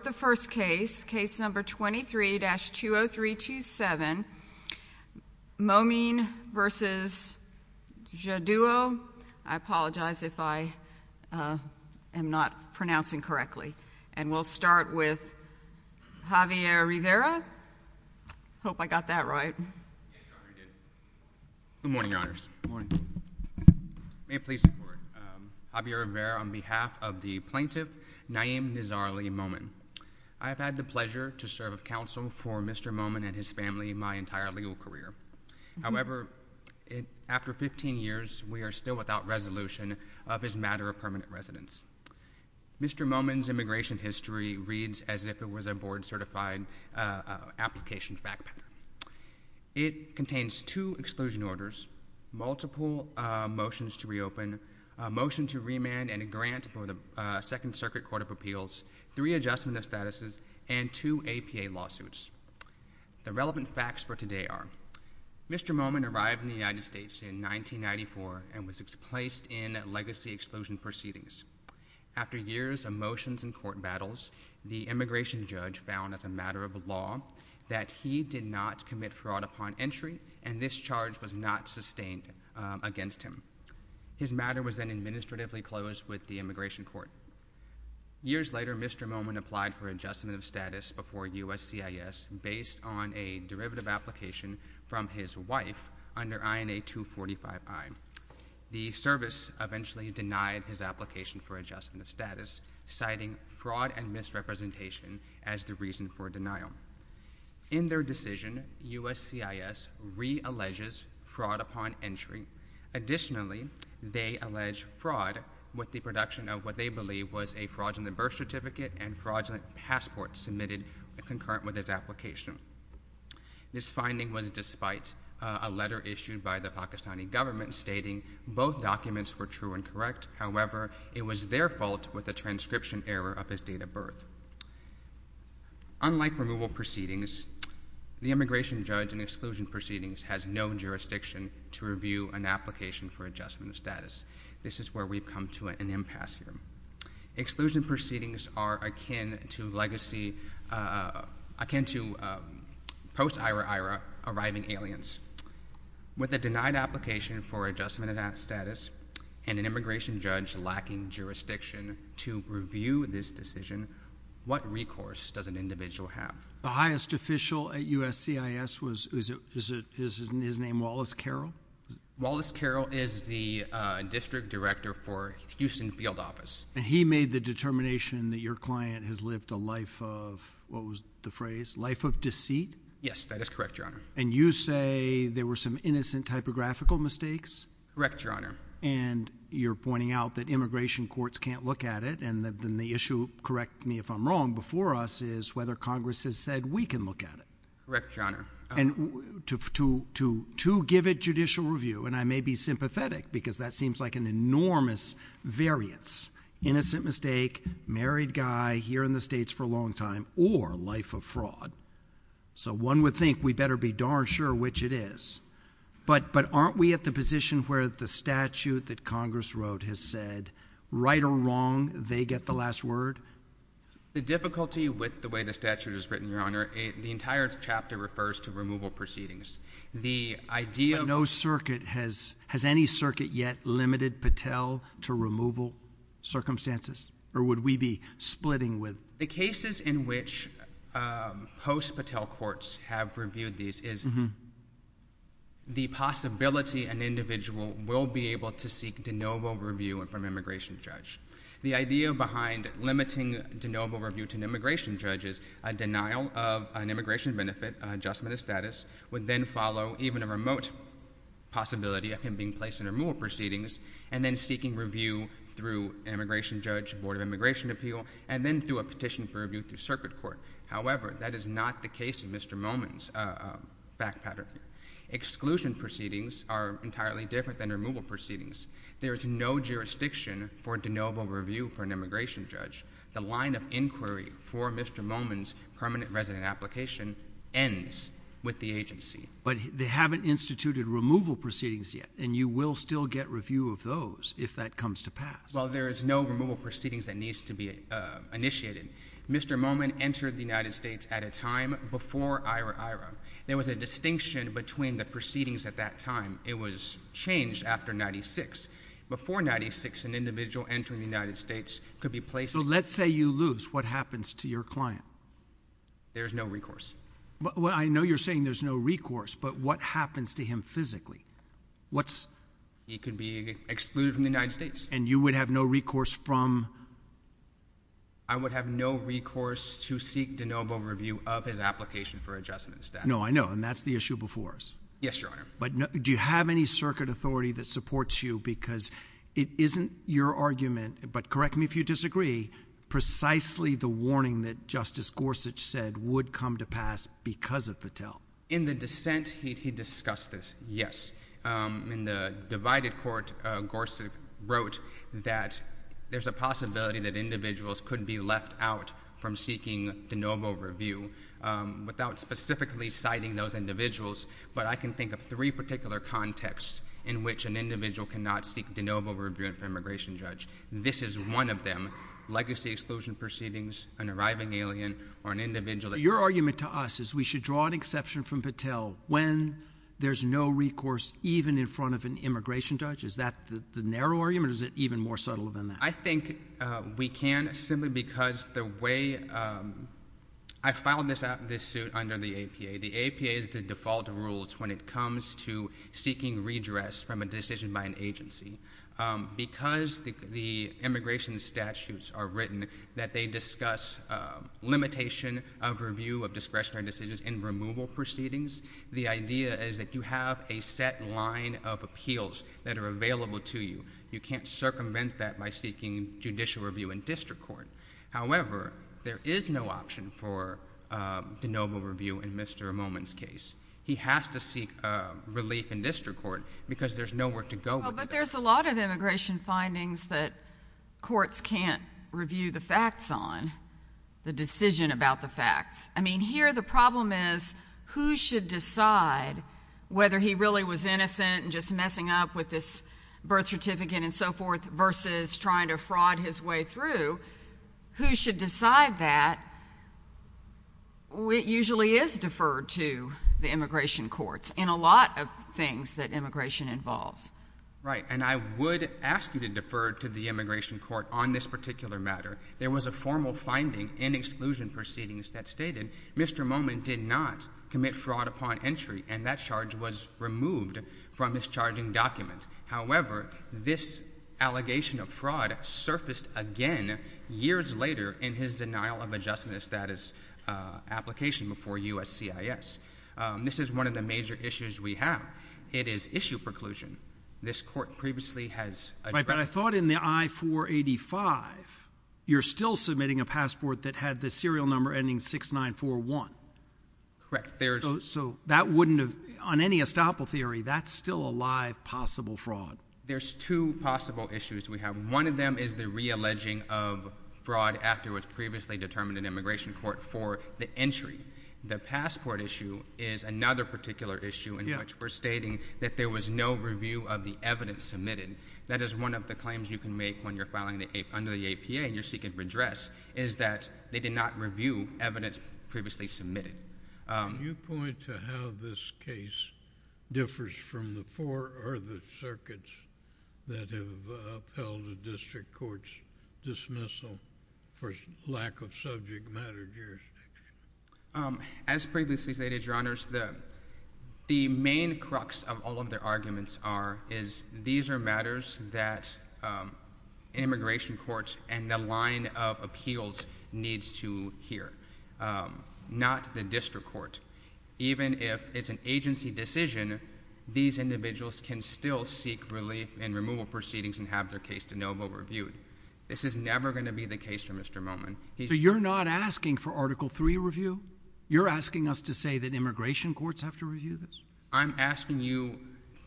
For the first case, case number 23-20327, Momin v. Jaddou. I apologize if I am not pronouncing correctly. And we'll start with Javier Rivera. Hope I got that right. Good morning, Your Honors. May it please the Court. Javier Rivera on behalf of the plaintiff Naeem Nizarli Momin. I have had the pleasure to serve of counsel for Mr. Momin and his family my entire legal career. However, after 15 years, we are still without resolution of his matter of permanent residence. Mr. Momin's immigration history reads as if it was a board-certified application fact pattern. It contains two exclusion orders, multiple motions to reopen, a motion to remand and a grant for the Second Circuit Court of Appeals, three adjustment of statuses, and two APA lawsuits. The relevant facts for today are Mr. Momin arrived in the United States in 1994 and was placed in legacy exclusion proceedings. After years of motions and court battles, the immigration judge found as a matter of entry and this charge was not sustained against him. His matter was then administratively closed with the immigration court. Years later, Mr. Momin applied for adjustment of status before USCIS based on a derivative application from his wife under INA 245I. The service eventually denied his application for adjustment of status, citing fraud and misrepresentation as the reason for denial. In their decision, USCIS re-alleges fraud upon entry. Additionally, they allege fraud with the production of what they believe was a fraudulent birth certificate and fraudulent passport submitted concurrent with his application. This finding was despite a letter issued by the Pakistani government stating both documents were true and correct. However, it was their fault with the transcription error of his date of birth. Unlike removal proceedings, the immigration judge in exclusion proceedings has no jurisdiction to review an application for adjustment of status. This is where we've come to an impasse here. Exclusion proceedings are akin to legacy, akin to post-IRA-IRA arriving aliens. With a denied application for adjustment of that status and an immigration judge lacking jurisdiction to review this decision, what recourse does an individual have? The highest official at USCIS was, is his name Wallace Carroll? Wallace Carroll is the district director for Houston Field Office. And he made the determination that your client has lived a life of, what was the phrase, life of deceit? Yes, that is correct, Your Honor. And you say there were some innocent typographical mistakes? Correct, Your Honor. And you're pointing out that immigration courts can't look at it, and then the issue, correct me if I'm wrong, before us is whether Congress has said we can look at it. Correct, Your Honor. And to give it judicial review, and I may be sympathetic because that seems like an enormous variance, innocent mistake, married guy here in the States for a long time, or life of fraud. So one would think we better be darn sure which it is. But, but aren't we at the position where the statute that Congress wrote has said, right or wrong, they get the last word? The difficulty with the way the statute is written, Your Honor, the entire chapter refers to removal proceedings. The idea of... But no circuit has, has any circuit yet limited Patel to removal circumstances? Or would we be splitting with... The cases in which post-Patel courts have reviewed these is the possibility an individual will be able to seek de novo review from an immigration judge. The idea behind limiting de novo review to an immigration judge is a denial of an immigration benefit, adjustment of status, would then follow even a remote possibility of him being placed in removal proceedings, and then seeking review through an immigration judge, Board of Immigration Appeal, and then through a petition for review through circuit court. However, that is not the case in Mr. Momin's back pattern. Exclusion proceedings are entirely different than removal proceedings. There is no jurisdiction for de novo review for an immigration judge. The line of inquiry for Mr. Momin's permanent resident application ends with the agency. But they haven't instituted removal proceedings yet, and you will still get review of those if that comes to pass. Well, there is no removal proceedings that needs to be initiated. Mr. Momin entered the United States at a time before IRA-IRA. There was a distinction between the proceedings at that time. It was changed after 96. Before 96, an individual entering the United States could be placed... So let's say you lose. What happens to your client? There's no recourse. Well, I know you're saying there's no recourse, but what happens to him physically? He could be excluded from the United States. And you would have no recourse from... I would have no recourse to seek de novo review of his application for adjustment of status. No, I know, and that's the issue before us. Yes, Your Honor. But do you have any circuit authority that supports you? Because it isn't your argument, but correct me if you disagree, precisely the warning that Justice Gorsuch said would come to pass because of Patel. In the dissent, he discussed this, yes. In the divided court, Gorsuch wrote that there's a possibility that individuals could be left out from seeking de novo review without specifically citing those individuals. But I can think of three particular contexts in which an individual cannot seek de novo review of an immigration judge. This is one of them, legacy exclusion proceedings, an arriving alien or an individual. Your argument to us is we should draw an exception from Patel when there's no recourse even in front of an immigration judge? Is that the narrow argument or is it even more subtle than that? I think we can simply because the way... I filed this suit under the APA. The APA is the default rules when it comes to seeking redress from a decision by an agency. Because the immigration statutes are written that they discuss limitation of review of discretionary decisions in removal proceedings, the idea is that you have a set line of appeals that are available to you. You can't circumvent that by seeking judicial review in district court. However, there is no option for de novo review in Mr. Momin's case. He has to seek relief in district court because there's nowhere to go with that. But there's a lot of immigration findings that courts can't review the facts on, the decision about the facts. I mean, here the problem is who should decide whether he really was innocent and just messing up with this birth certificate and so forth versus trying to fraud his way through? Who should decide that? It usually is deferred to the immigration courts in a lot of things that immigration involves. Right. And I would ask you to defer to the immigration court on this particular matter. There was a formal finding in exclusion proceedings that stated Mr. Momin did not commit fraud upon entry and that charge was removed from his charging document. However, this allegation of fraud surfaced again years later in his denial of adjustment status application before USCIS. This is one of the major issues we have. It is issue preclusion. This court previously has addressed it. Right. But I thought in the I-485 you're still submitting a passport that had the serial number ending 6941. Correct. There's So that wouldn't have, on any estoppel theory, that's still a live possible fraud. There's two possible issues we have. One of them is the re-alleging of fraud after it was previously determined in immigration court for the entry. The passport issue is another particular issue in which we're stating that there was no review of the evidence submitted. That is one of the claims you can make when you're filing under the APA and you're seeking redress is that they did not review evidence previously submitted. You point to how this case differs from the four other circuits that have upheld a district court's dismissal for lack of subject matter here. As previously stated, Your Honors, the main crux of all of their arguments are, is these are matters that immigration courts and the line of appeals needs to hear, not the district court. Even if it's an agency decision, these individuals can still seek relief and removal proceedings and have their case de novo reviewed. This is never going to be the case for Mr. Momin. So you're not asking for Article III review? You're asking us to say that immigration courts have to review this? I'm asking you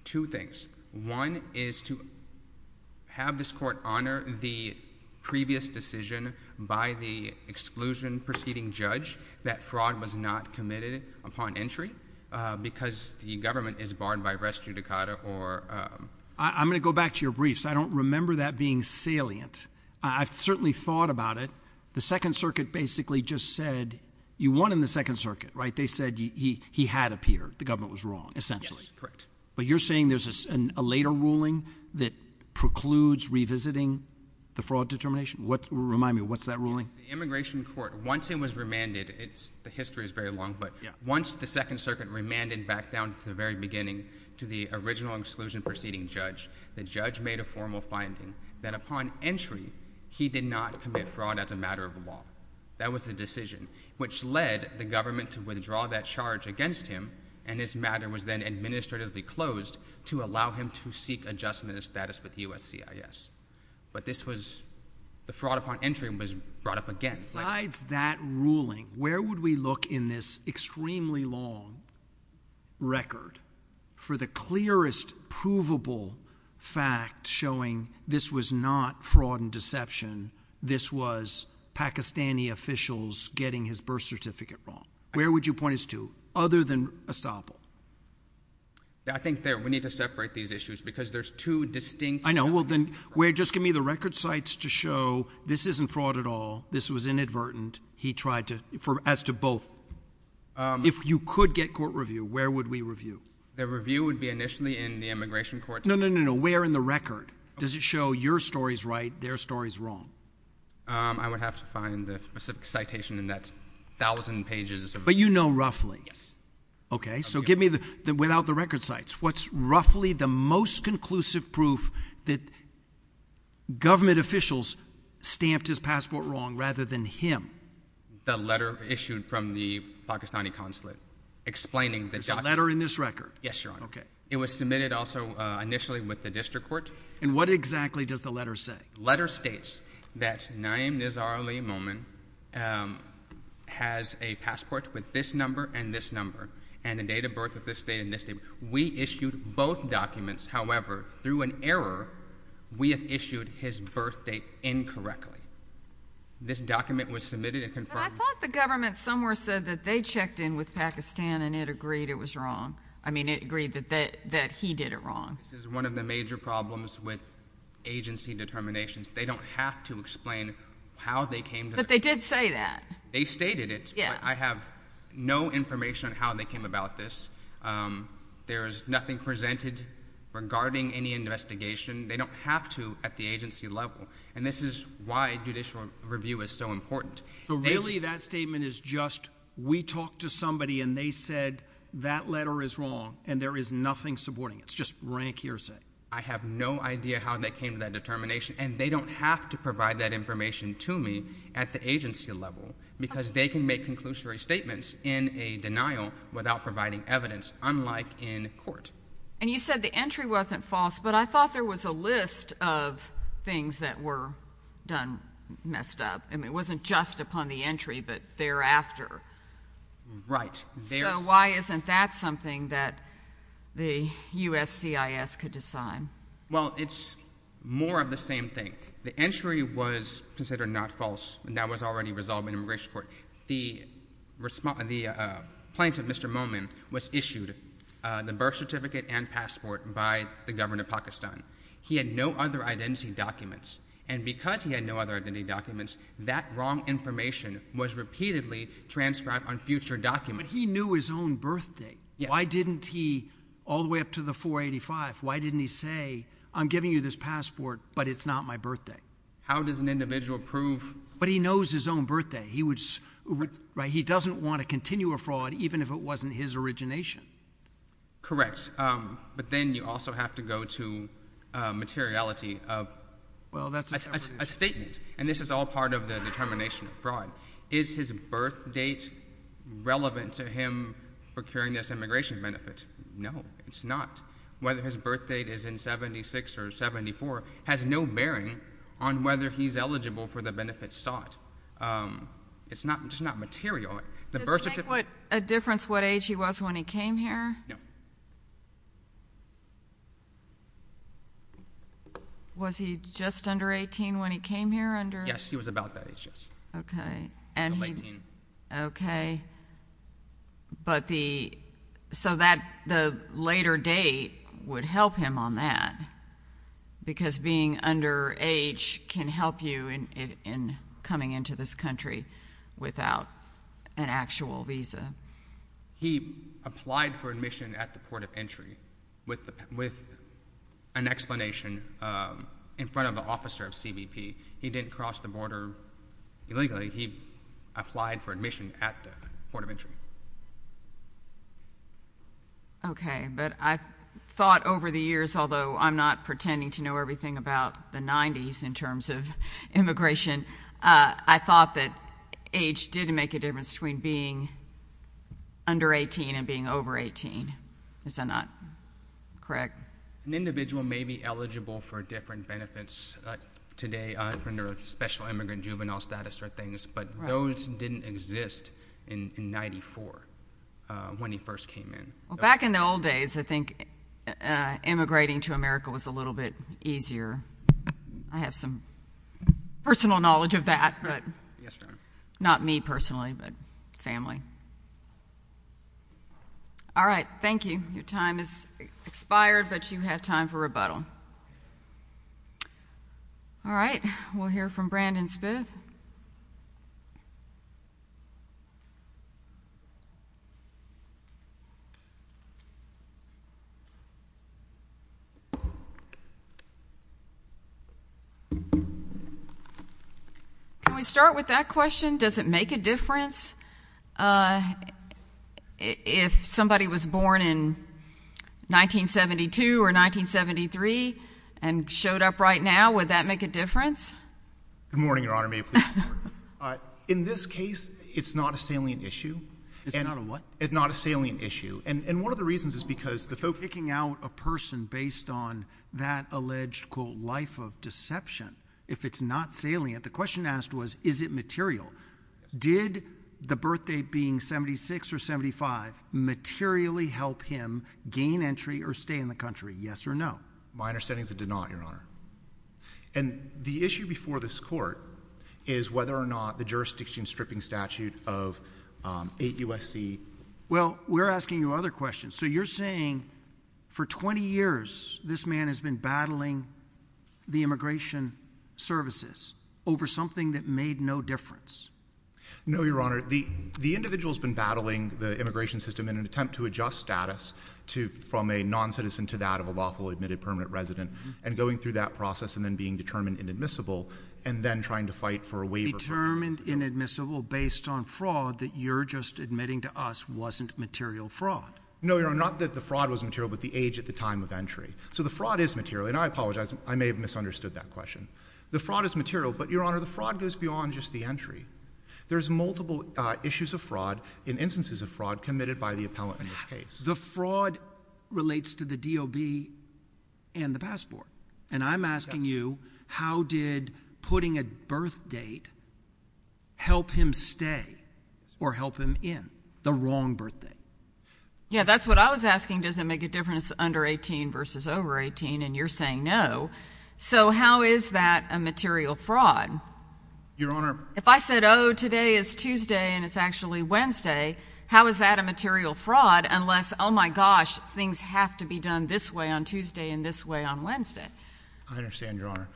two things. One is to have this court honor the previous decision by the exclusion proceeding judge that fraud was not committed upon entry because the government is barred by res judicata or I'm going to go back to your briefs. I don't remember that being salient. I've certainly thought about it. The Second Circuit basically just said you won in the Second Circuit, right? They said he, he, he had appeared. The government was wrong essentially, correct? But you're saying there's a, a later ruling that precludes revisiting the fraud determination? What remind me of what's that ruling? Immigration court. Once it was remanded, it's the history is very long, but once the Second Circuit remanded back down to the very beginning to the original exclusion proceeding judge, the judge made a formal finding that upon entry, he did not commit fraud as a matter of the law. That was the decision which led the government to withdraw that charge against him. And this matter was then administratively closed to allow him to seek adjustment of status with USCIS. But this was the fraud upon entry was brought up again. Besides that ruling, where would we look in this extremely long record for the clearest provable fact showing this was not fraud and deception? This was Pakistani officials getting his birth certificate wrong. Where would you point us to other than Estoppol? I think there, we need to separate these issues because there's two distinct. I know. Well then, where, just give me the record sites to show this isn't fraud at all. This was inadvertent. He tried to, for, as to both. If you could get court review, where would we review? The review would be initially in the immigration court. No, no, no, no, no. Where in the record does it show your story's right? Their story's wrong. I would have to find the specific citation in that thousand pages. But you know, roughly. Yes. Okay. So give me the, without the record sites, what's roughly the most conclusive proof that government officials stamped his passport wrong rather than him? The letter issued from the Pakistani consulate explaining the letter in this record. Yes, Your Honor. Okay. It was submitted also initially with the district court. And what exactly does the letter say? Letter states that Naeem Nizar Ali Momin has a passport with this number and this number and the date of birth of this date and this date. We issued both documents. However, through an error, we have issued his birth date incorrectly. This document was submitted and confirmed. But I thought the government somewhere said that they checked in with Pakistan and it agreed it was wrong. I mean, it agreed that he did it wrong. This is one of the major problems with agency determinations. They don't have to explain how they came to that. But they did say that. They stated it. Yeah. I have no information on how they came about this. There's nothing presented regarding any investigation. They don't have to at the agency level. And this is why judicial review is so important. So really that statement is just, we talked to that letter is wrong and there is nothing supporting it. It's just rank hearsay. I have no idea how they came to that determination. And they don't have to provide that information to me at the agency level because they can make conclusory statements in a denial without providing evidence, unlike in court. And you said the entry wasn't false. But I thought there was a list of things that were done messed up. I mean, it wasn't just upon the entry, but thereafter. Right. So why isn't that something that the U.S. CIS could decide? Well, it's more of the same thing. The entry was considered not false and that was already resolved in immigration court. The response, the plaintiff, Mr. Momin, was issued the birth certificate and passport by the governor of Pakistan. He had no other identity documents. And because he had no other identity documents, that wrong information was repeatedly transcribed on future documents. But he knew his own birth date. Why didn't he, all the way up to the 485, why didn't he say, I'm giving you this passport, but it's not my birthday? How does an individual prove? But he knows his own birthday. He doesn't want to continue a fraud even if it wasn't his origination. Correct. But then you also have to go to materiality of a statement. And this is all part of the determination of fraud. Is his birth date relevant to him procuring this immigration benefit? No, it's not. Whether his birth date is in 76 or 74 has no bearing on whether he's eligible for the benefits sought. It's not material. Does it make a difference what age he was when he came here? No. Was he just under 18 when he came here? Yes, he was about that age, yes. Okay. He was 19. Okay. But the, so that, the later date would help him on that. Because being under age can help you in coming into this country without an actual visa. He applied for admission at the port of entry with an explanation in front of the officer of CBP. He didn't cross the border illegally. He applied for admission at the port of entry. Okay. But I thought over the years, although I'm not pretending to know everything about the 90s in terms of immigration, I thought that age did make a difference between being under 18 and being over 18. Is that not correct? An individual may be eligible for different benefits today under special immigrant juvenile status or things, but those didn't exist in 94 when he first came in. Well, back in the old days, I think immigrating to America was a little bit easier. I have some personal knowledge of that, but not me personally, but family. All right. Thank you. Your time has expired, but you have time for rebuttal. All right. We'll hear from Brandon Smith. Can we start with that question? Does it make a difference if somebody was born in 1972 or 1973 and showed up right now? Would that make a difference? Good morning, Your Honor. May it please the Court? In this case, it's not a salient issue. It's not a what? It's not a salient issue, and one of the reasons is because the folk— Picking out a person based on that alleged, quote, life of deception, if it's not salient, the question asked was, is it material? Did the birth date being 76 or 75 materially help him gain entry or stay in the country, yes or no? My understanding is it did not, Your Honor. And the issue before this Court is whether or not the jurisdiction stripping statute of 8 U.S.C. Well, we're asking you other questions. So you're saying for 20 years, this man has been battling the immigration services over something that made no difference? No, Your Honor. The individual's been battling the immigration system in an attempt to adjust status from a noncitizen to that of a lawfully admitted permanent resident and going through that process and then being determined inadmissible and then trying to fight for a waiver. Determined inadmissible based on fraud that you're just admitting to us wasn't material fraud? No, Your Honor. Not that the fraud was material, but the age at the time of entry. So the fraud is material, and I apologize. I may have misunderstood that question. The fraud is material, but, Your Honor, the fraud goes beyond just the entry. There's multiple issues of fraud and instances of fraud committed by the appellant in this case. The fraud relates to the DOB and the passport. And I'm asking you, how did putting a birth date help him stay or help him in the wrong birthday? Yeah, that's what I was asking. Does it make a difference under 18 versus over 18? And you're saying no. So how is that a material fraud? Your Honor. If I said, oh, today is Tuesday and it's actually Wednesday, how is that a I understand, Your Honor.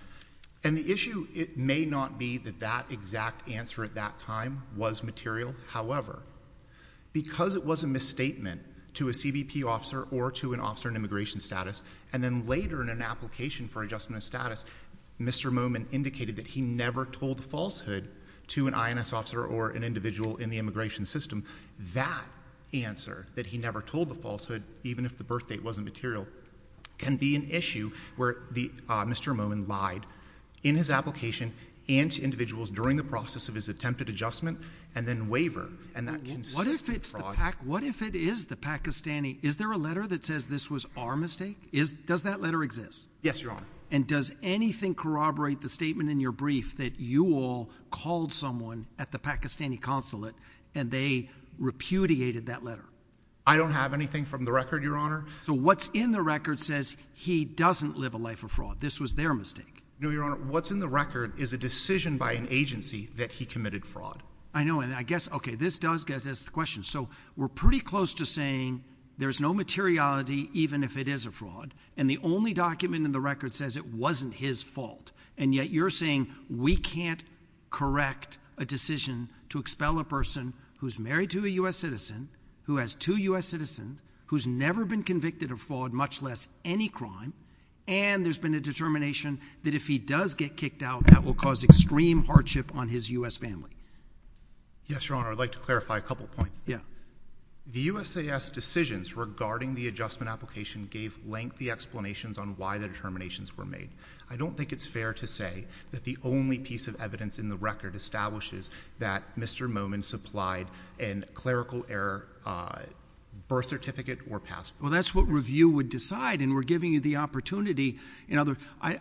And the issue, it may not be that that exact answer at that time was material. However, because it was a misstatement to a CBP officer or to an officer in immigration status, and then later in an application for adjustment of status, Mr. Moomin indicated that he never told the falsehood to an INS officer or an individual in the immigration system. That answer, that he never told the falsehood, even if the birth date wasn't material, can be an issue where Mr. Moomin lied in his application and to individuals during the process of his attempted adjustment and then wavered. What if it is the Pakistani? Is there a letter that says this was our mistake? Does that letter exist? Yes, Your Honor. And does anything corroborate the statement in your brief that you all called someone at the Pakistani consulate and they repudiated that letter? I don't have anything from the record, Your Honor. So what's in the record says he doesn't live a life of fraud. This was their mistake. No, Your Honor. What's in the record is a decision by an agency that he committed fraud. I know. And I guess, okay, this does get us to the question. So we're pretty close to saying there's no materiality even if it is a fraud. And the only document in the record says it wasn't his fault. And yet you're saying we can't correct a decision to expel a person who's married to a U.S. citizen, who has two U.S. citizens, who's never been convicted of fraud, much less any crime, and there's been a determination that if he does get kicked out, that will cause extreme hardship on his U.S. family. Yes, Your Honor. I'd like to clarify a couple points. Yeah. The USAS decisions regarding the adjustment application gave lengthy explanations on why the determinations were made. I don't think it's fair to say that the only piece of evidence in the record establishes that Mr. Momin supplied a clerical error birth certificate or passport. Well, that's what review would decide, and we're giving you the opportunity. In other words,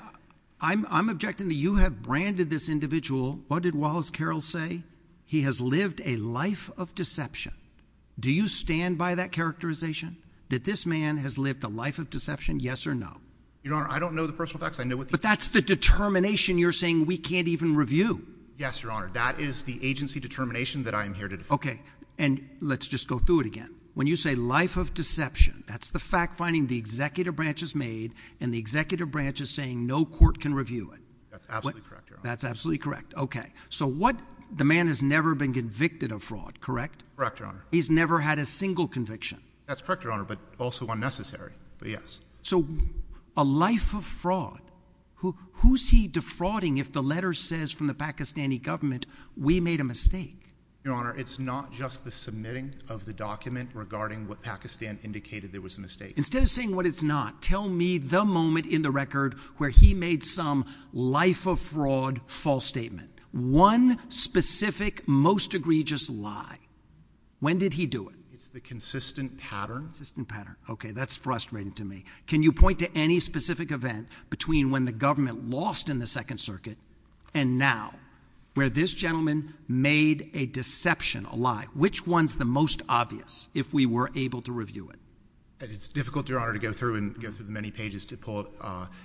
I'm objecting that you have branded this individual, what did Wallace Carroll say? He has lived a life of deception. Do you stand by that characterization, that this man has lived a life of deception, yes or no? Your Honor, I don't know the personal facts. But that's the determination you're saying we can't even review. Yes, Your Honor. That is the agency determination that I am here to defend. Okay. And let's just go through it again. When you say life of deception, that's the fact-finding the executive branch has made, and the executive branch is saying no court can review it. That's absolutely correct, Your Honor. That's absolutely correct. Okay. So the man has never been convicted of fraud, correct? Correct, Your Honor. He's never had a single conviction? That's correct, Your Honor, but also unnecessary. But yes. So a life of fraud. Who's he defrauding if the letter says from the Pakistani government, we made a mistake? Your Honor, it's not just the submitting of the document regarding what Pakistan indicated there was a mistake. Instead of saying what it's not, tell me the moment in the record where he made some life of fraud false statement. One specific, most egregious lie. When did he do it? It's the consistent pattern. Consistent pattern. Okay, that's frustrating to me. Can you point to any specific event between when the government lost in the Second Circuit and now, where this gentleman made a deception, a lie? Which one's the most obvious, if we were able to review it? It's difficult, Your Honor, to go through and go through the many pages to pull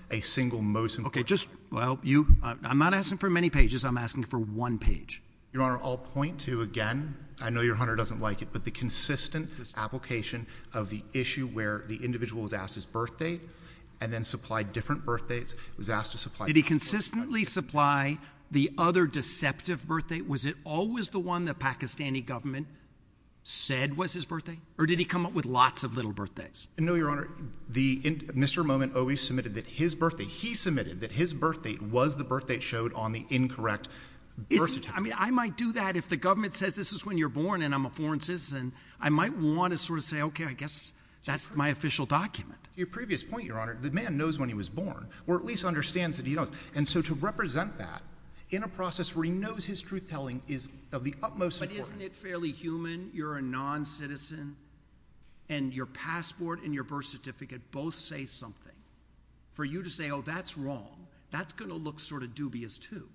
a single most important lie. Okay, just, well, you, I'm not asking for many pages, I'm asking for one page. Your Honor, I'll point to, again, I know Your Honor doesn't like it, but the consistent application of the issue where the individual was asked his birthday and then supplied different birthdates, was asked to supply different birthdates. Did he consistently supply the other deceptive birthdate? Was it always the one the Pakistani government said was his birthday? Or did he come up with lots of little birthdates? No, Your Honor, Mr. Momin always submitted that his birthday, he submitted that his birthday was the birthdate showed on the incorrect birth certificate. I mean, I might do that if the government says this is when you're born and I'm a foreign citizen. I might want to sort of say, okay, I guess that's my official document. Your previous point, Your Honor, the man knows when he was born, or at least understands that he knows. And so to represent that in a process where he knows his truth-telling is of the utmost importance. But isn't it fairly human, you're a non-citizen, and your passport and your birth certificate both say something. For you to say, oh, that's wrong, that's going to look sort of dubious, too.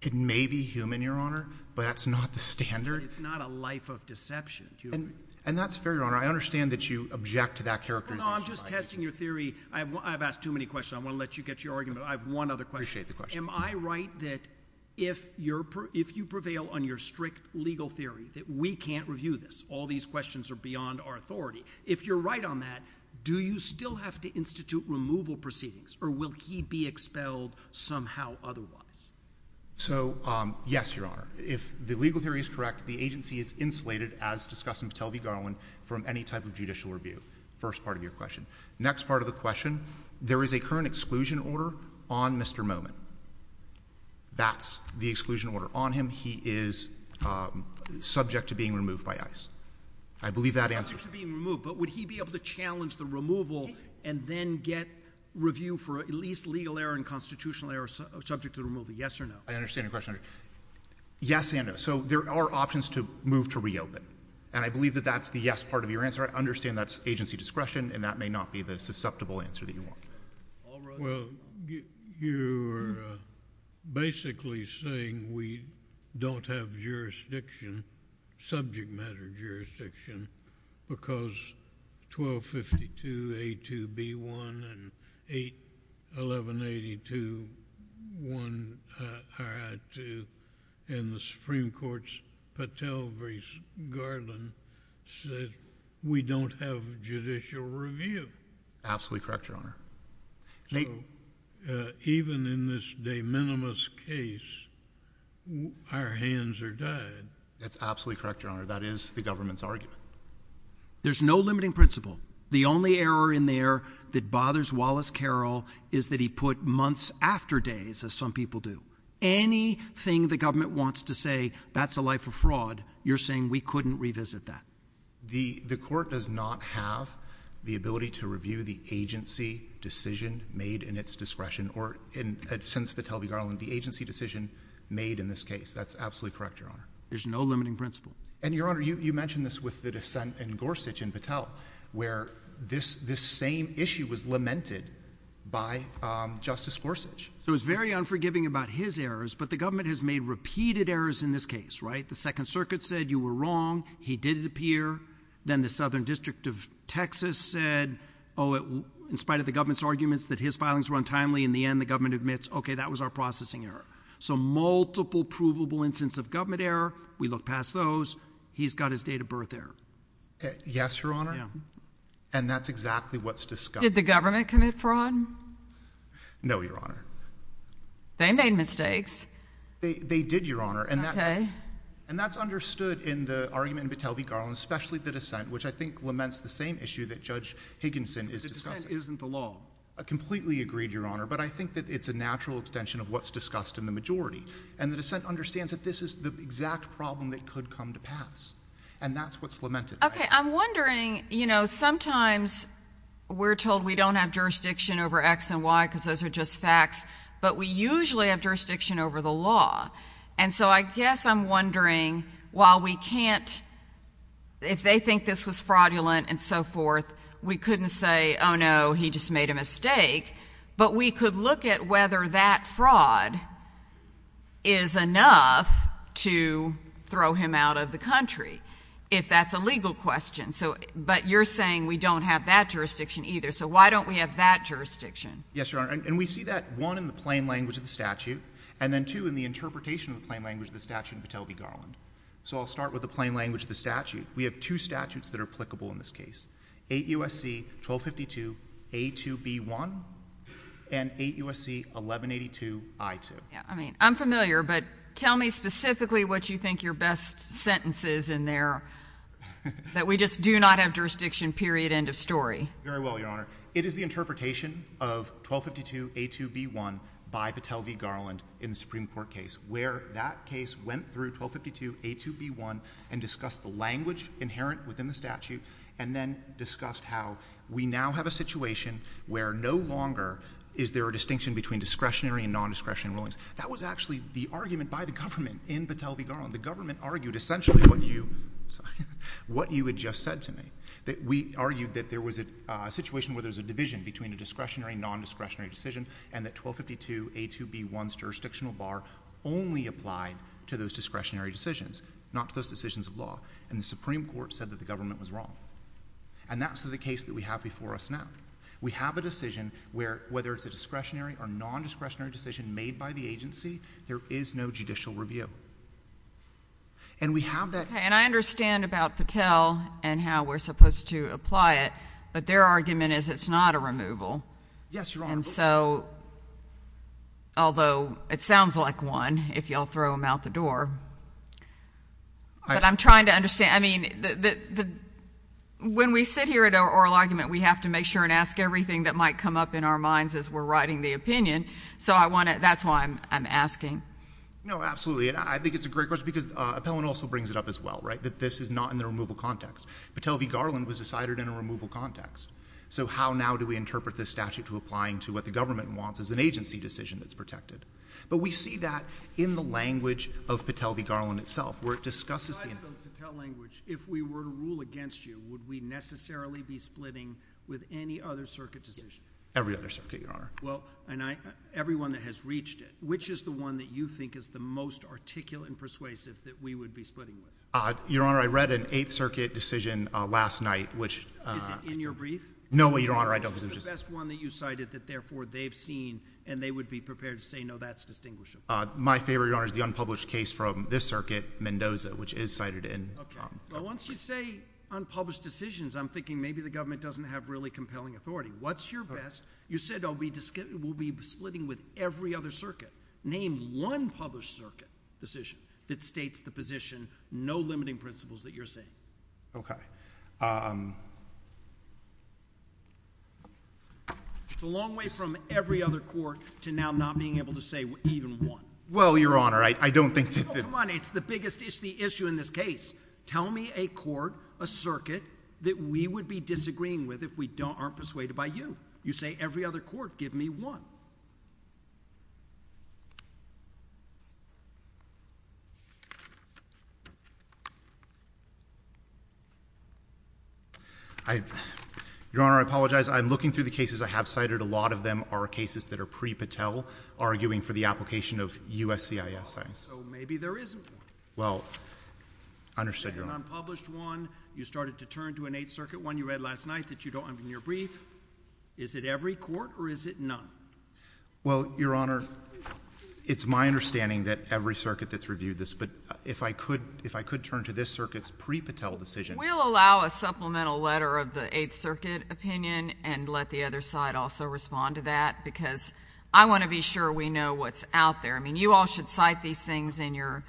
It may be human, Your Honor, but that's not the standard. It's not a life of deception. And that's fair, Your Honor. I understand that you object to that characterization. No, I'm just testing your theory. I've asked too many questions. I want to let you get your argument. I have one other question. Appreciate the question. Am I right that if you prevail on your strict legal theory that we can't review this, all these questions are beyond our authority. If you're right on that, do you still have to institute removal proceedings? Or will he be expelled somehow otherwise? So, yes, Your Honor. If the legal theory is correct, the agency is insulated, as discussed in Patel v. Garland, from any type of judicial review. First part of your question. Next part of the question, there is a current exclusion order on Mr. Momin. That's the exclusion order on him. He is subject to being removed by ICE. I believe that answers it. Subject to being removed, but would he be able to challenge the removal and then get review for at least legal error and constitutional error subject to removal? Yes or no? I understand your question, Your Honor. Yes and no. So there are options to move to reopen. And I believe that that's the yes part of your answer. I understand that's agency discretion, and that may not be the susceptible answer that you want. All rise. Well, you're basically saying we don't have jurisdiction, subject matter jurisdiction, because 1252A2B1 and 811821RI2 in the Supreme Court's Patel v. Garland said we don't have judicial review. Absolutely correct, Your Honor. So even in this de minimis case, our hands are tied. That's absolutely correct, Your Honor. That is the government's argument. There's no limiting principle. The only error in there that bothers Wallace Carroll is that he put months after days, as some people do. Anything the government wants to say, that's a life of fraud, you're saying we couldn't revisit that. The court does not have the ability to review the agency decision made in its discretion, or since Patel v. Garland, the agency decision made in this case. That's absolutely correct, Your Honor. There's no limiting principle. And, Your Honor, you mentioned this with the dissent in Gorsuch and Patel, where this same issue was lamented by Justice Gorsuch. So it's very unforgiving about his errors, but the government has made repeated errors in this case, right? The Second Circuit said you were wrong, he did it appear. Then the Southern District of Texas said, oh, in spite of the government's arguments that his filings were untimely, in the end the government admits, okay, that was our processing error. So multiple provable instances of government error, we look past those, he's got his date of birth error. Yes, Your Honor, and that's exactly what's discussed. Did the government commit fraud? No, Your Honor. They made mistakes. They did, Your Honor. Okay. And that's understood in the argument in Patel v. Garland, especially the dissent, which I think laments the same issue that Judge Higginson is discussing. The dissent isn't the law. I completely agree, Your Honor, but I think that it's a natural extension of what's discussed in the majority. And the dissent understands that this is the exact problem that could come to pass. And that's what's lamented. Okay, I'm wondering, you know, sometimes we're told we don't have jurisdiction over X and Y because those are just facts, but we usually have jurisdiction over the law. And so I guess I'm wondering, while we can't, if they think this was fraudulent and so forth, we couldn't say, oh, no, he just made a mistake. But we could look at whether that fraud is enough to throw him out of the country, if that's a legal question. But you're saying we don't have that jurisdiction either. So why don't we have that jurisdiction? Yes, Your Honor, and we see that, one, in the plain language of the statute, and then, two, in the interpretation of the plain language of the statute in Patel v. Garland. So I'll start with the plain language of the statute. We have two statutes that are applicable in this case. 8 U.S.C. 1252-A2-B1 and 8 U.S.C. 1182-I2. Yeah, I mean, I'm familiar, but tell me specifically what you think your best sentence is in there that we just do not have jurisdiction, period, end of story. Very well, Your Honor. It is the interpretation of 1252-A2-B1 by Patel v. Garland in the Supreme Court case where that case went through 1252-A2-B1 and discussed the language inherent within the statute and then discussed how we now have a situation where no longer is there a distinction between discretionary and non-discretionary rulings. That was actually the argument by the government in Patel v. Garland. The government argued essentially what you had just said to me, that we argued that there was a situation where there was a division between a discretionary and non-discretionary decision and that 1252-A2-B1's jurisdictional bar only applied to those discretionary decisions, not to those decisions of law. And the Supreme Court said that the government was wrong. And that's the case that we have before us now. We have a decision where whether it's a discretionary or non-discretionary decision made by the agency, there is no judicial review. And we have that... Okay, and I understand about Patel and how we're supposed to apply it, but their argument is it's not a removal. Yes, Your Honor. And so, although it sounds like one if you all throw them out the door, but I'm trying to understand. I mean, when we sit here at oral argument, we have to make sure and ask everything that might come up in our minds as we're writing the opinion. So, I want to... That's why I'm asking. No, absolutely. And I think it's a great question because Appellant also brings it up as well, right? That this is not in the removal context. Patel v. Garland was decided in a removal context. So, how now do we interpret this statute to applying to what the government wants as an agency decision that's protected? But we see that in the language of Patel v. Garland itself where it discusses... In Patel language, if we were to rule against you, would we necessarily be splitting with any other circuit decision? Every other circuit, Your Honor. Well, and everyone that has reached it. Which is the one that you think is the most articulate and persuasive that we would be splitting with? Your Honor, I read an Eighth Circuit decision last night which... Is it in your brief? No, Your Honor, I don't... Which is the best one that you cited that therefore they've seen and they would be prepared to say, no, that's distinguishable. My favorite, Your Honor, is the unpublished case from this circuit, Mendoza, which is cited in... Okay, but once you say unpublished decisions, I'm thinking maybe the government doesn't have really compelling authority. What's your best? You said we'll be splitting with every other circuit. Name one published circuit decision that states the position, no limiting principles that you're saying. Okay. It's a long way from every other court to now not being able to say even one. Well, Your Honor, I don't think... Oh, come on. It's the biggest issue in this case. Tell me a court, a circuit that we would be disagreeing with if we aren't persuaded by you. You say every other court. Give me one. I... Your Honor, I apologize. I'm looking through the cases I have cited. A lot of them are cases that are pre-Patel, arguing for the application of USCIS signs. So maybe there isn't one. Well, I understood, Your Honor. You said an unpublished one. You started to turn to an Eighth Circuit one you read last night that you don't... None. None. None. None. None. None. None. None. Well, Your Honor, it's my understanding that every circuit that's reviewed this, but if I could turn to this circuit's pre-Patel decision... We'll allow a supplemental letter of the Eighth Circuit opinion and let the other side also respond to that because I want to be sure we know what's out there. I mean, you all should cite these things in your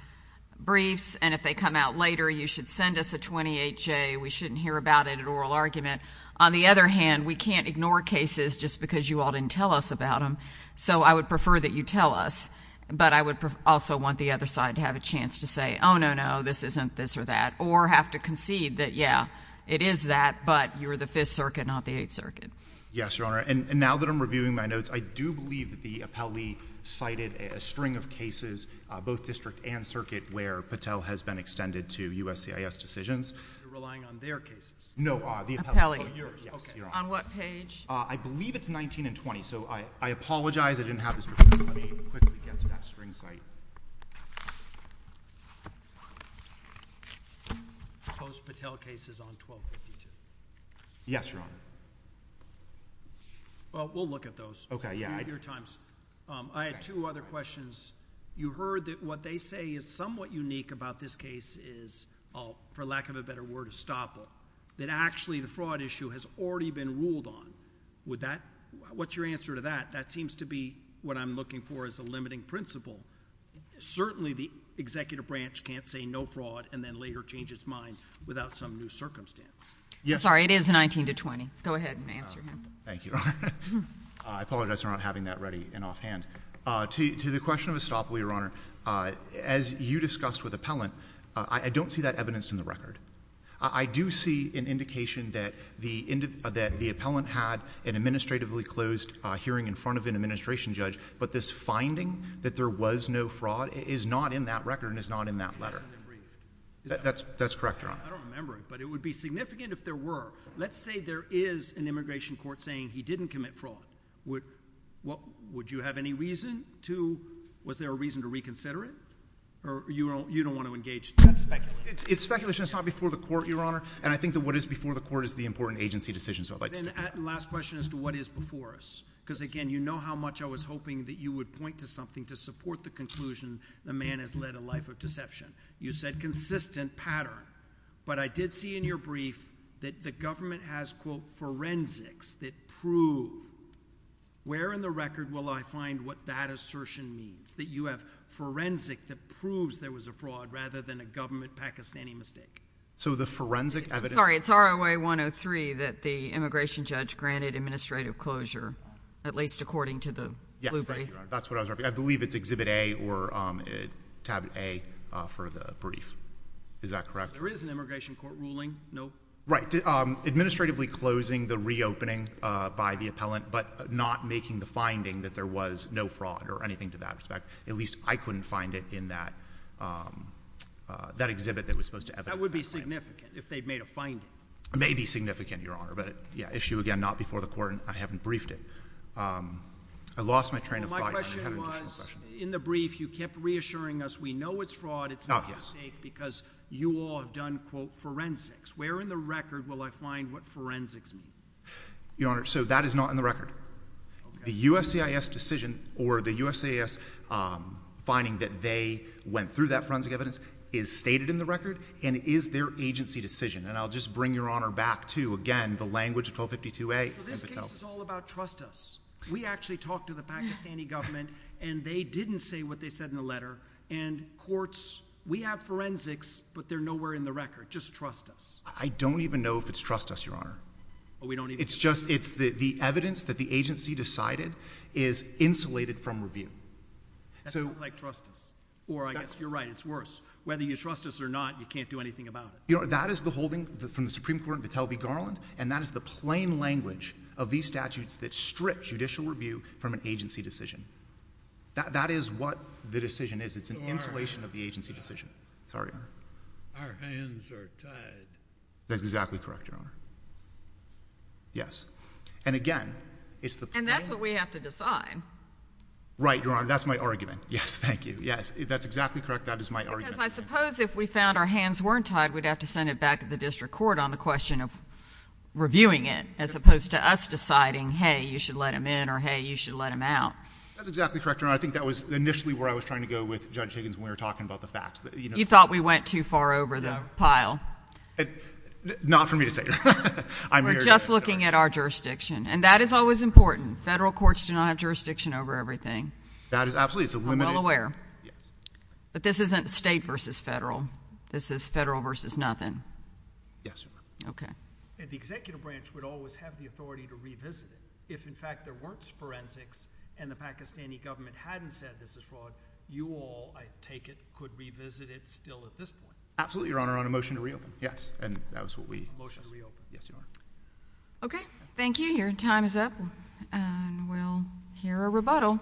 briefs, and if they come out later, you should send us a 28-J. We shouldn't hear about it at oral argument. On the other hand, we can't ignore cases just because you all didn't tell us about them, so I would prefer that you tell us, but I would also want the other side to have a chance to say, oh, no, no, this isn't this or that, or have to concede that, yeah, it is that, but you're the Fifth Circuit, not the Eighth Circuit. Yes, Your Honor, and now that I'm reviewing my notes, I do believe that the appellee cited a string of cases, both district and circuit, where Patel has been extended to USCIS decisions. You're relying on their cases? No, the appellee. Yes, Your Honor. On what page? I believe it's 19 and 20, so I apologize. I didn't have this prepared. Let me quickly get to that string cite. Post-Patel cases on 1252. Yes, Your Honor. Well, we'll look at those. Okay, yeah. I had two other questions. You heard that what they say is somewhat unique about this case is, for lack of a better word, a stopper, that actually the fraud issue has already been ruled on. What's your answer to that? That seems to be what I'm looking for as a limiting principle. Certainly the executive branch can't say no fraud and then later change its mind without some new circumstance. I'm sorry, it is 19 to 20. Go ahead and answer him. Thank you. I apologize for not having that ready and offhand. To the question of a stopper, Your Honor, as you discussed with appellant, I don't see that evidenced in the record. I do see an indication that the appellant had an administratively closed hearing in front of an administration judge, but this finding that there was no fraud is not in that record and is not in that letter. That's correct, Your Honor. I don't remember it, but it would be significant if there were. Let's say there is an immigration court saying he didn't commit fraud. Would you have any reason to? Was there a reason to reconsider it? Or you don't want to engage? It's speculation. It's not before the court, Your Honor, and I think that what is before the court is the important agency decision. Last question as to what is before us, because again, you know how much I was hoping that you would point to something to support the conclusion the man has led a life of deception. You said consistent pattern, but I did see in your brief that the government has, quote, forensics that prove. Where in the record will I find what that assertion means, that you have forensic that proves there was a fraud rather than a government Pakistani mistake? So the forensic evidence? Sorry. It's ROA 103 that the immigration judge granted administrative closure, at least according to the blue brief. Yes. Thank you, Your Honor. That's what I was referring to. I believe it's Exhibit A or Tab A for the brief. Is that correct? There is an immigration court ruling. No? Right. Administratively closing the reopening by the appellant but not making the finding that there was no fraud or anything to that respect. At least I couldn't find it in that exhibit that was supposed to evidence. That would be significant if they'd made a finding. It may be significant, Your Honor, but yeah, issue again not before the court and I haven't briefed it. I lost my train of thought. My question was, in the brief you kept reassuring us we know it's fraud, it's not a mistake, because you all have done, quote, forensics. Where in the record will I find what forensics mean? Your Honor, so that is not in the record. The USCIS decision or the USCIS finding that they went through that forensic evidence is stated in the record and is their agency decision. And I'll just bring Your Honor back to, again, the language of 1252A. So this case is all about trust us. We actually talked to the Pakistani government and they didn't say what they said in the letter. And courts, we have forensics, but they're nowhere in the record. Just trust us. I don't even know if it's trust us, Your Honor. It's just the evidence that the agency decided is insulated from review. That sounds like trust us. Or I guess you're right, it's worse. Whether you trust us or not, you can't do anything about it. You know, that is the holding from the Supreme Court of the Tel Aviv Garland, and that is the plain language of these statutes that strip judicial review from an agency decision. That is what the decision is. It's an insulation of the agency decision. Sorry, Your Honor. Our hands are tied. That's exactly correct, Your Honor. Yes. And again, it's the plain... And that's what we have to decide. Right, Your Honor. That's my argument. Yes. Thank you. Yes. That's exactly correct. That is my argument. Because I suppose if we found our hands weren't tied, we'd have to send it back to the district court on the question of reviewing it, as opposed to us deciding, hey, you should let him in, or hey, you should let him out. That's exactly correct, Your Honor. I think that was initially where I was trying to go with Judge Higgins when we were talking about the facts. You thought we went too far over the pile. Not for me to say. We're just looking at our jurisdiction. And that is always important. Federal courts do not have jurisdiction over everything. That is absolutely... I'm well aware. Yes. But this isn't state versus federal. This is federal versus nothing. Yes, Your Honor. Okay. And the executive branch would always have the authority to revisit it. If, in fact, there weren't forensics and the Pakistani government hadn't said this is fraud, you all, I take it, could revisit it still at this point. Absolutely, Your Honor. On a motion to reopen. Yes. And that was what we... Motion to reopen. Yes, Your Honor. Okay. Thank you. Your time is up. And we'll hear a rebuttal.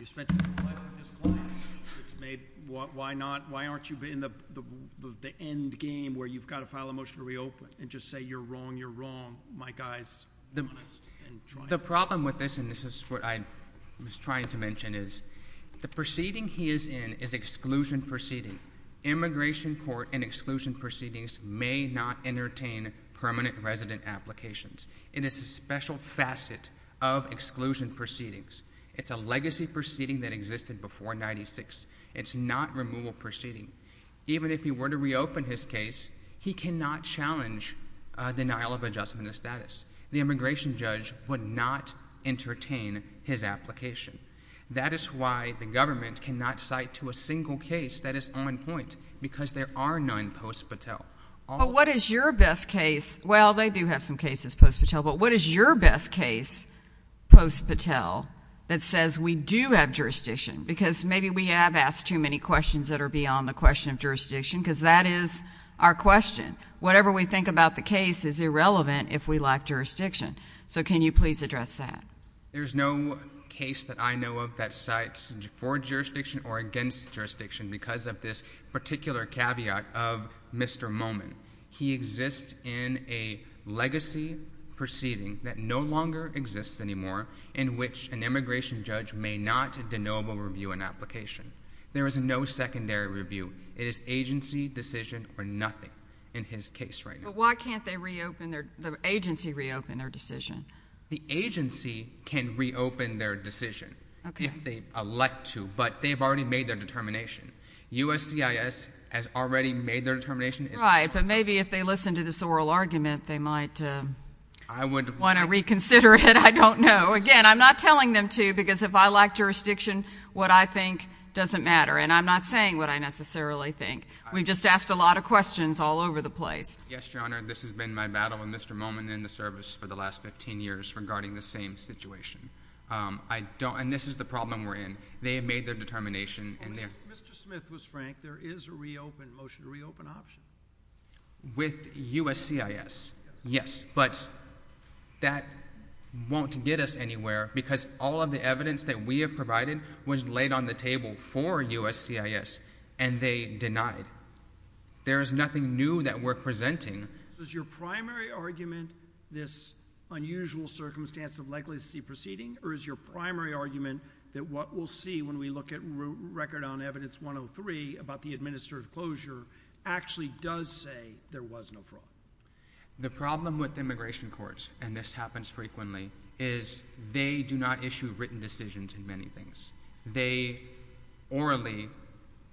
You spent your whole life with this client. Why aren't you in the end game where you've got to file a motion to reopen and just say you're wrong, you're wrong, my guys? The problem with this, and this is what I was trying to mention, is the proceeding he is in is exclusion proceeding. Immigration court and exclusion proceedings may not entertain permanent resident applications. It is a special facet of exclusion proceedings. It's a legacy proceeding that existed before 96. It's not removal proceeding. Even if he were to reopen his case, he cannot challenge denial of adjustment of status. The immigration judge would not entertain his application. That is why the government cannot cite to a single case that is on point because there are none post-Patel. But what is your best case? Well, they do have some cases post-Patel. But what is your best case post-Patel that says we do have jurisdiction? Because maybe we have asked too many questions that are beyond the question of jurisdiction because that is our question. But whatever we think about the case is irrelevant if we lack jurisdiction. So can you please address that? There's no case that I know of that cites for jurisdiction or against jurisdiction because of this particular caveat of Mr. Momin. He exists in a legacy proceeding that no longer exists anymore in which an immigration judge may not de novo review an application. There is no secondary review. It is agency, decision, or nothing in his case right now. But why can't the agency reopen their decision? The agency can reopen their decision if they elect to, but they have already made their determination. USCIS has already made their determination. Right, but maybe if they listen to this oral argument, they might want to reconsider it. I don't know. Again, I'm not telling them to because if I lack jurisdiction, what I think doesn't matter. And I'm not saying what I necessarily think. We've just asked a lot of questions all over the place. Yes, Your Honor. This has been my battle with Mr. Momin in the service for the last 15 years regarding the same situation. And this is the problem we're in. They have made their determination. Mr. Smith was frank. There is a reopen, motion to reopen option. With USCIS, yes, but that won't get us anywhere because all of the evidence that we have provided was laid on the table for USCIS, and they denied. There is nothing new that we're presenting. Is your primary argument this unusual circumstance of legacy proceeding? Or is your primary argument that what we'll see when we look at record on evidence 103 about the administered closure actually does say there was no fraud? The problem with immigration courts, and this happens frequently, is they do not issue written decisions in many things. They orally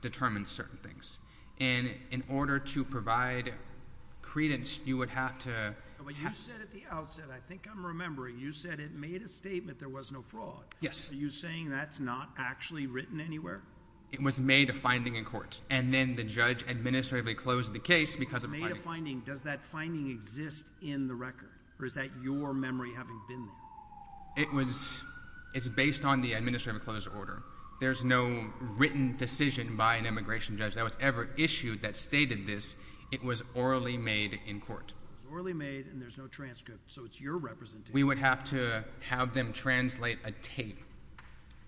determine certain things. And in order to provide credence, you would have to... But you said at the outset, I think I'm remembering, you said it made a statement there was no fraud. Yes. Are you saying that's not actually written anywhere? It was made a finding in court. And then the judge administratively closed the case because of the finding. It was made a finding. Does that finding exist in the record? Or is that your memory having been there? It's based on the administrative closed order. There's no written decision by an immigration judge that was ever issued that stated this. It was orally made in court. Orally made, and there's no transcript, so it's your representation. We would have to have them translate a tape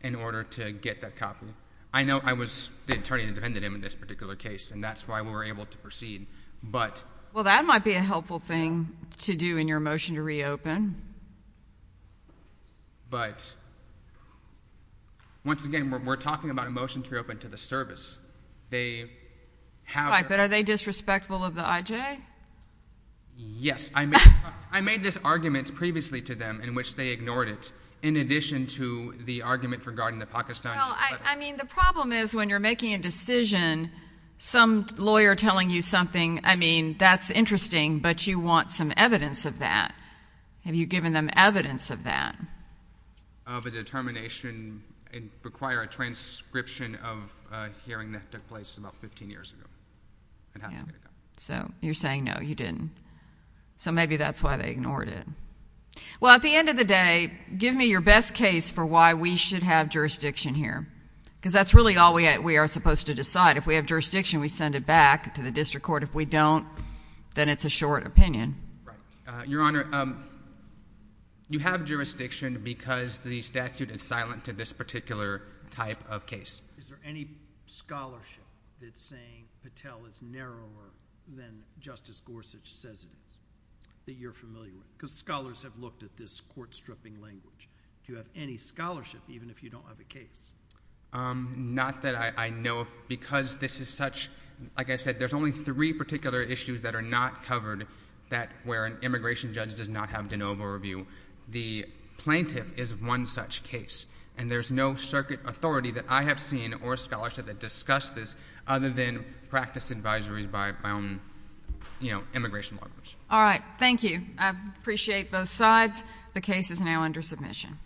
in order to get that copy. I know I was the attorney that defended him in this particular case, and that's why we were able to proceed, but... Well, that might be a helpful thing to do in your motion to reopen. But once again, we're talking about a motion to reopen to the service. They have... But are they disrespectful of the IJ? Yes. I made this argument previously to them in which they ignored it in addition to the argument regarding the Pakistani... Well, I mean, the problem is when you're making a decision, some lawyer telling you something, I mean, that's interesting, but you want some evidence of that. Have you given them evidence of that? Of a determination and require a transcription of a hearing that took place about 15 years ago. So you're saying, no, you didn't. So maybe that's why they ignored it. Well, at the end of the day, give me your best case for why we should have jurisdiction here. Because that's really all we are supposed to decide. If we have jurisdiction, we send it back to the district court. If we don't, then it's a short opinion. Your Honor, you have jurisdiction because the statute is silent to this particular type of case. Is there any scholarship that's saying Patel is narrower than Justice Gorsuch says it is, that you're familiar with? Because scholars have looked at this court-stripping language. Do you have any scholarship, even if you don't have a case? Not that I know of, because this is such... Like I said, there's only three particular issues that are not covered where an immigration judge does not have de novo review. The plaintiff is one such case. And there's no circuit authority that I have seen or scholarship that discuss this other than practice advisories by my own immigration lawyers. All right. Thank you. I appreciate both sides. The case is now under submission.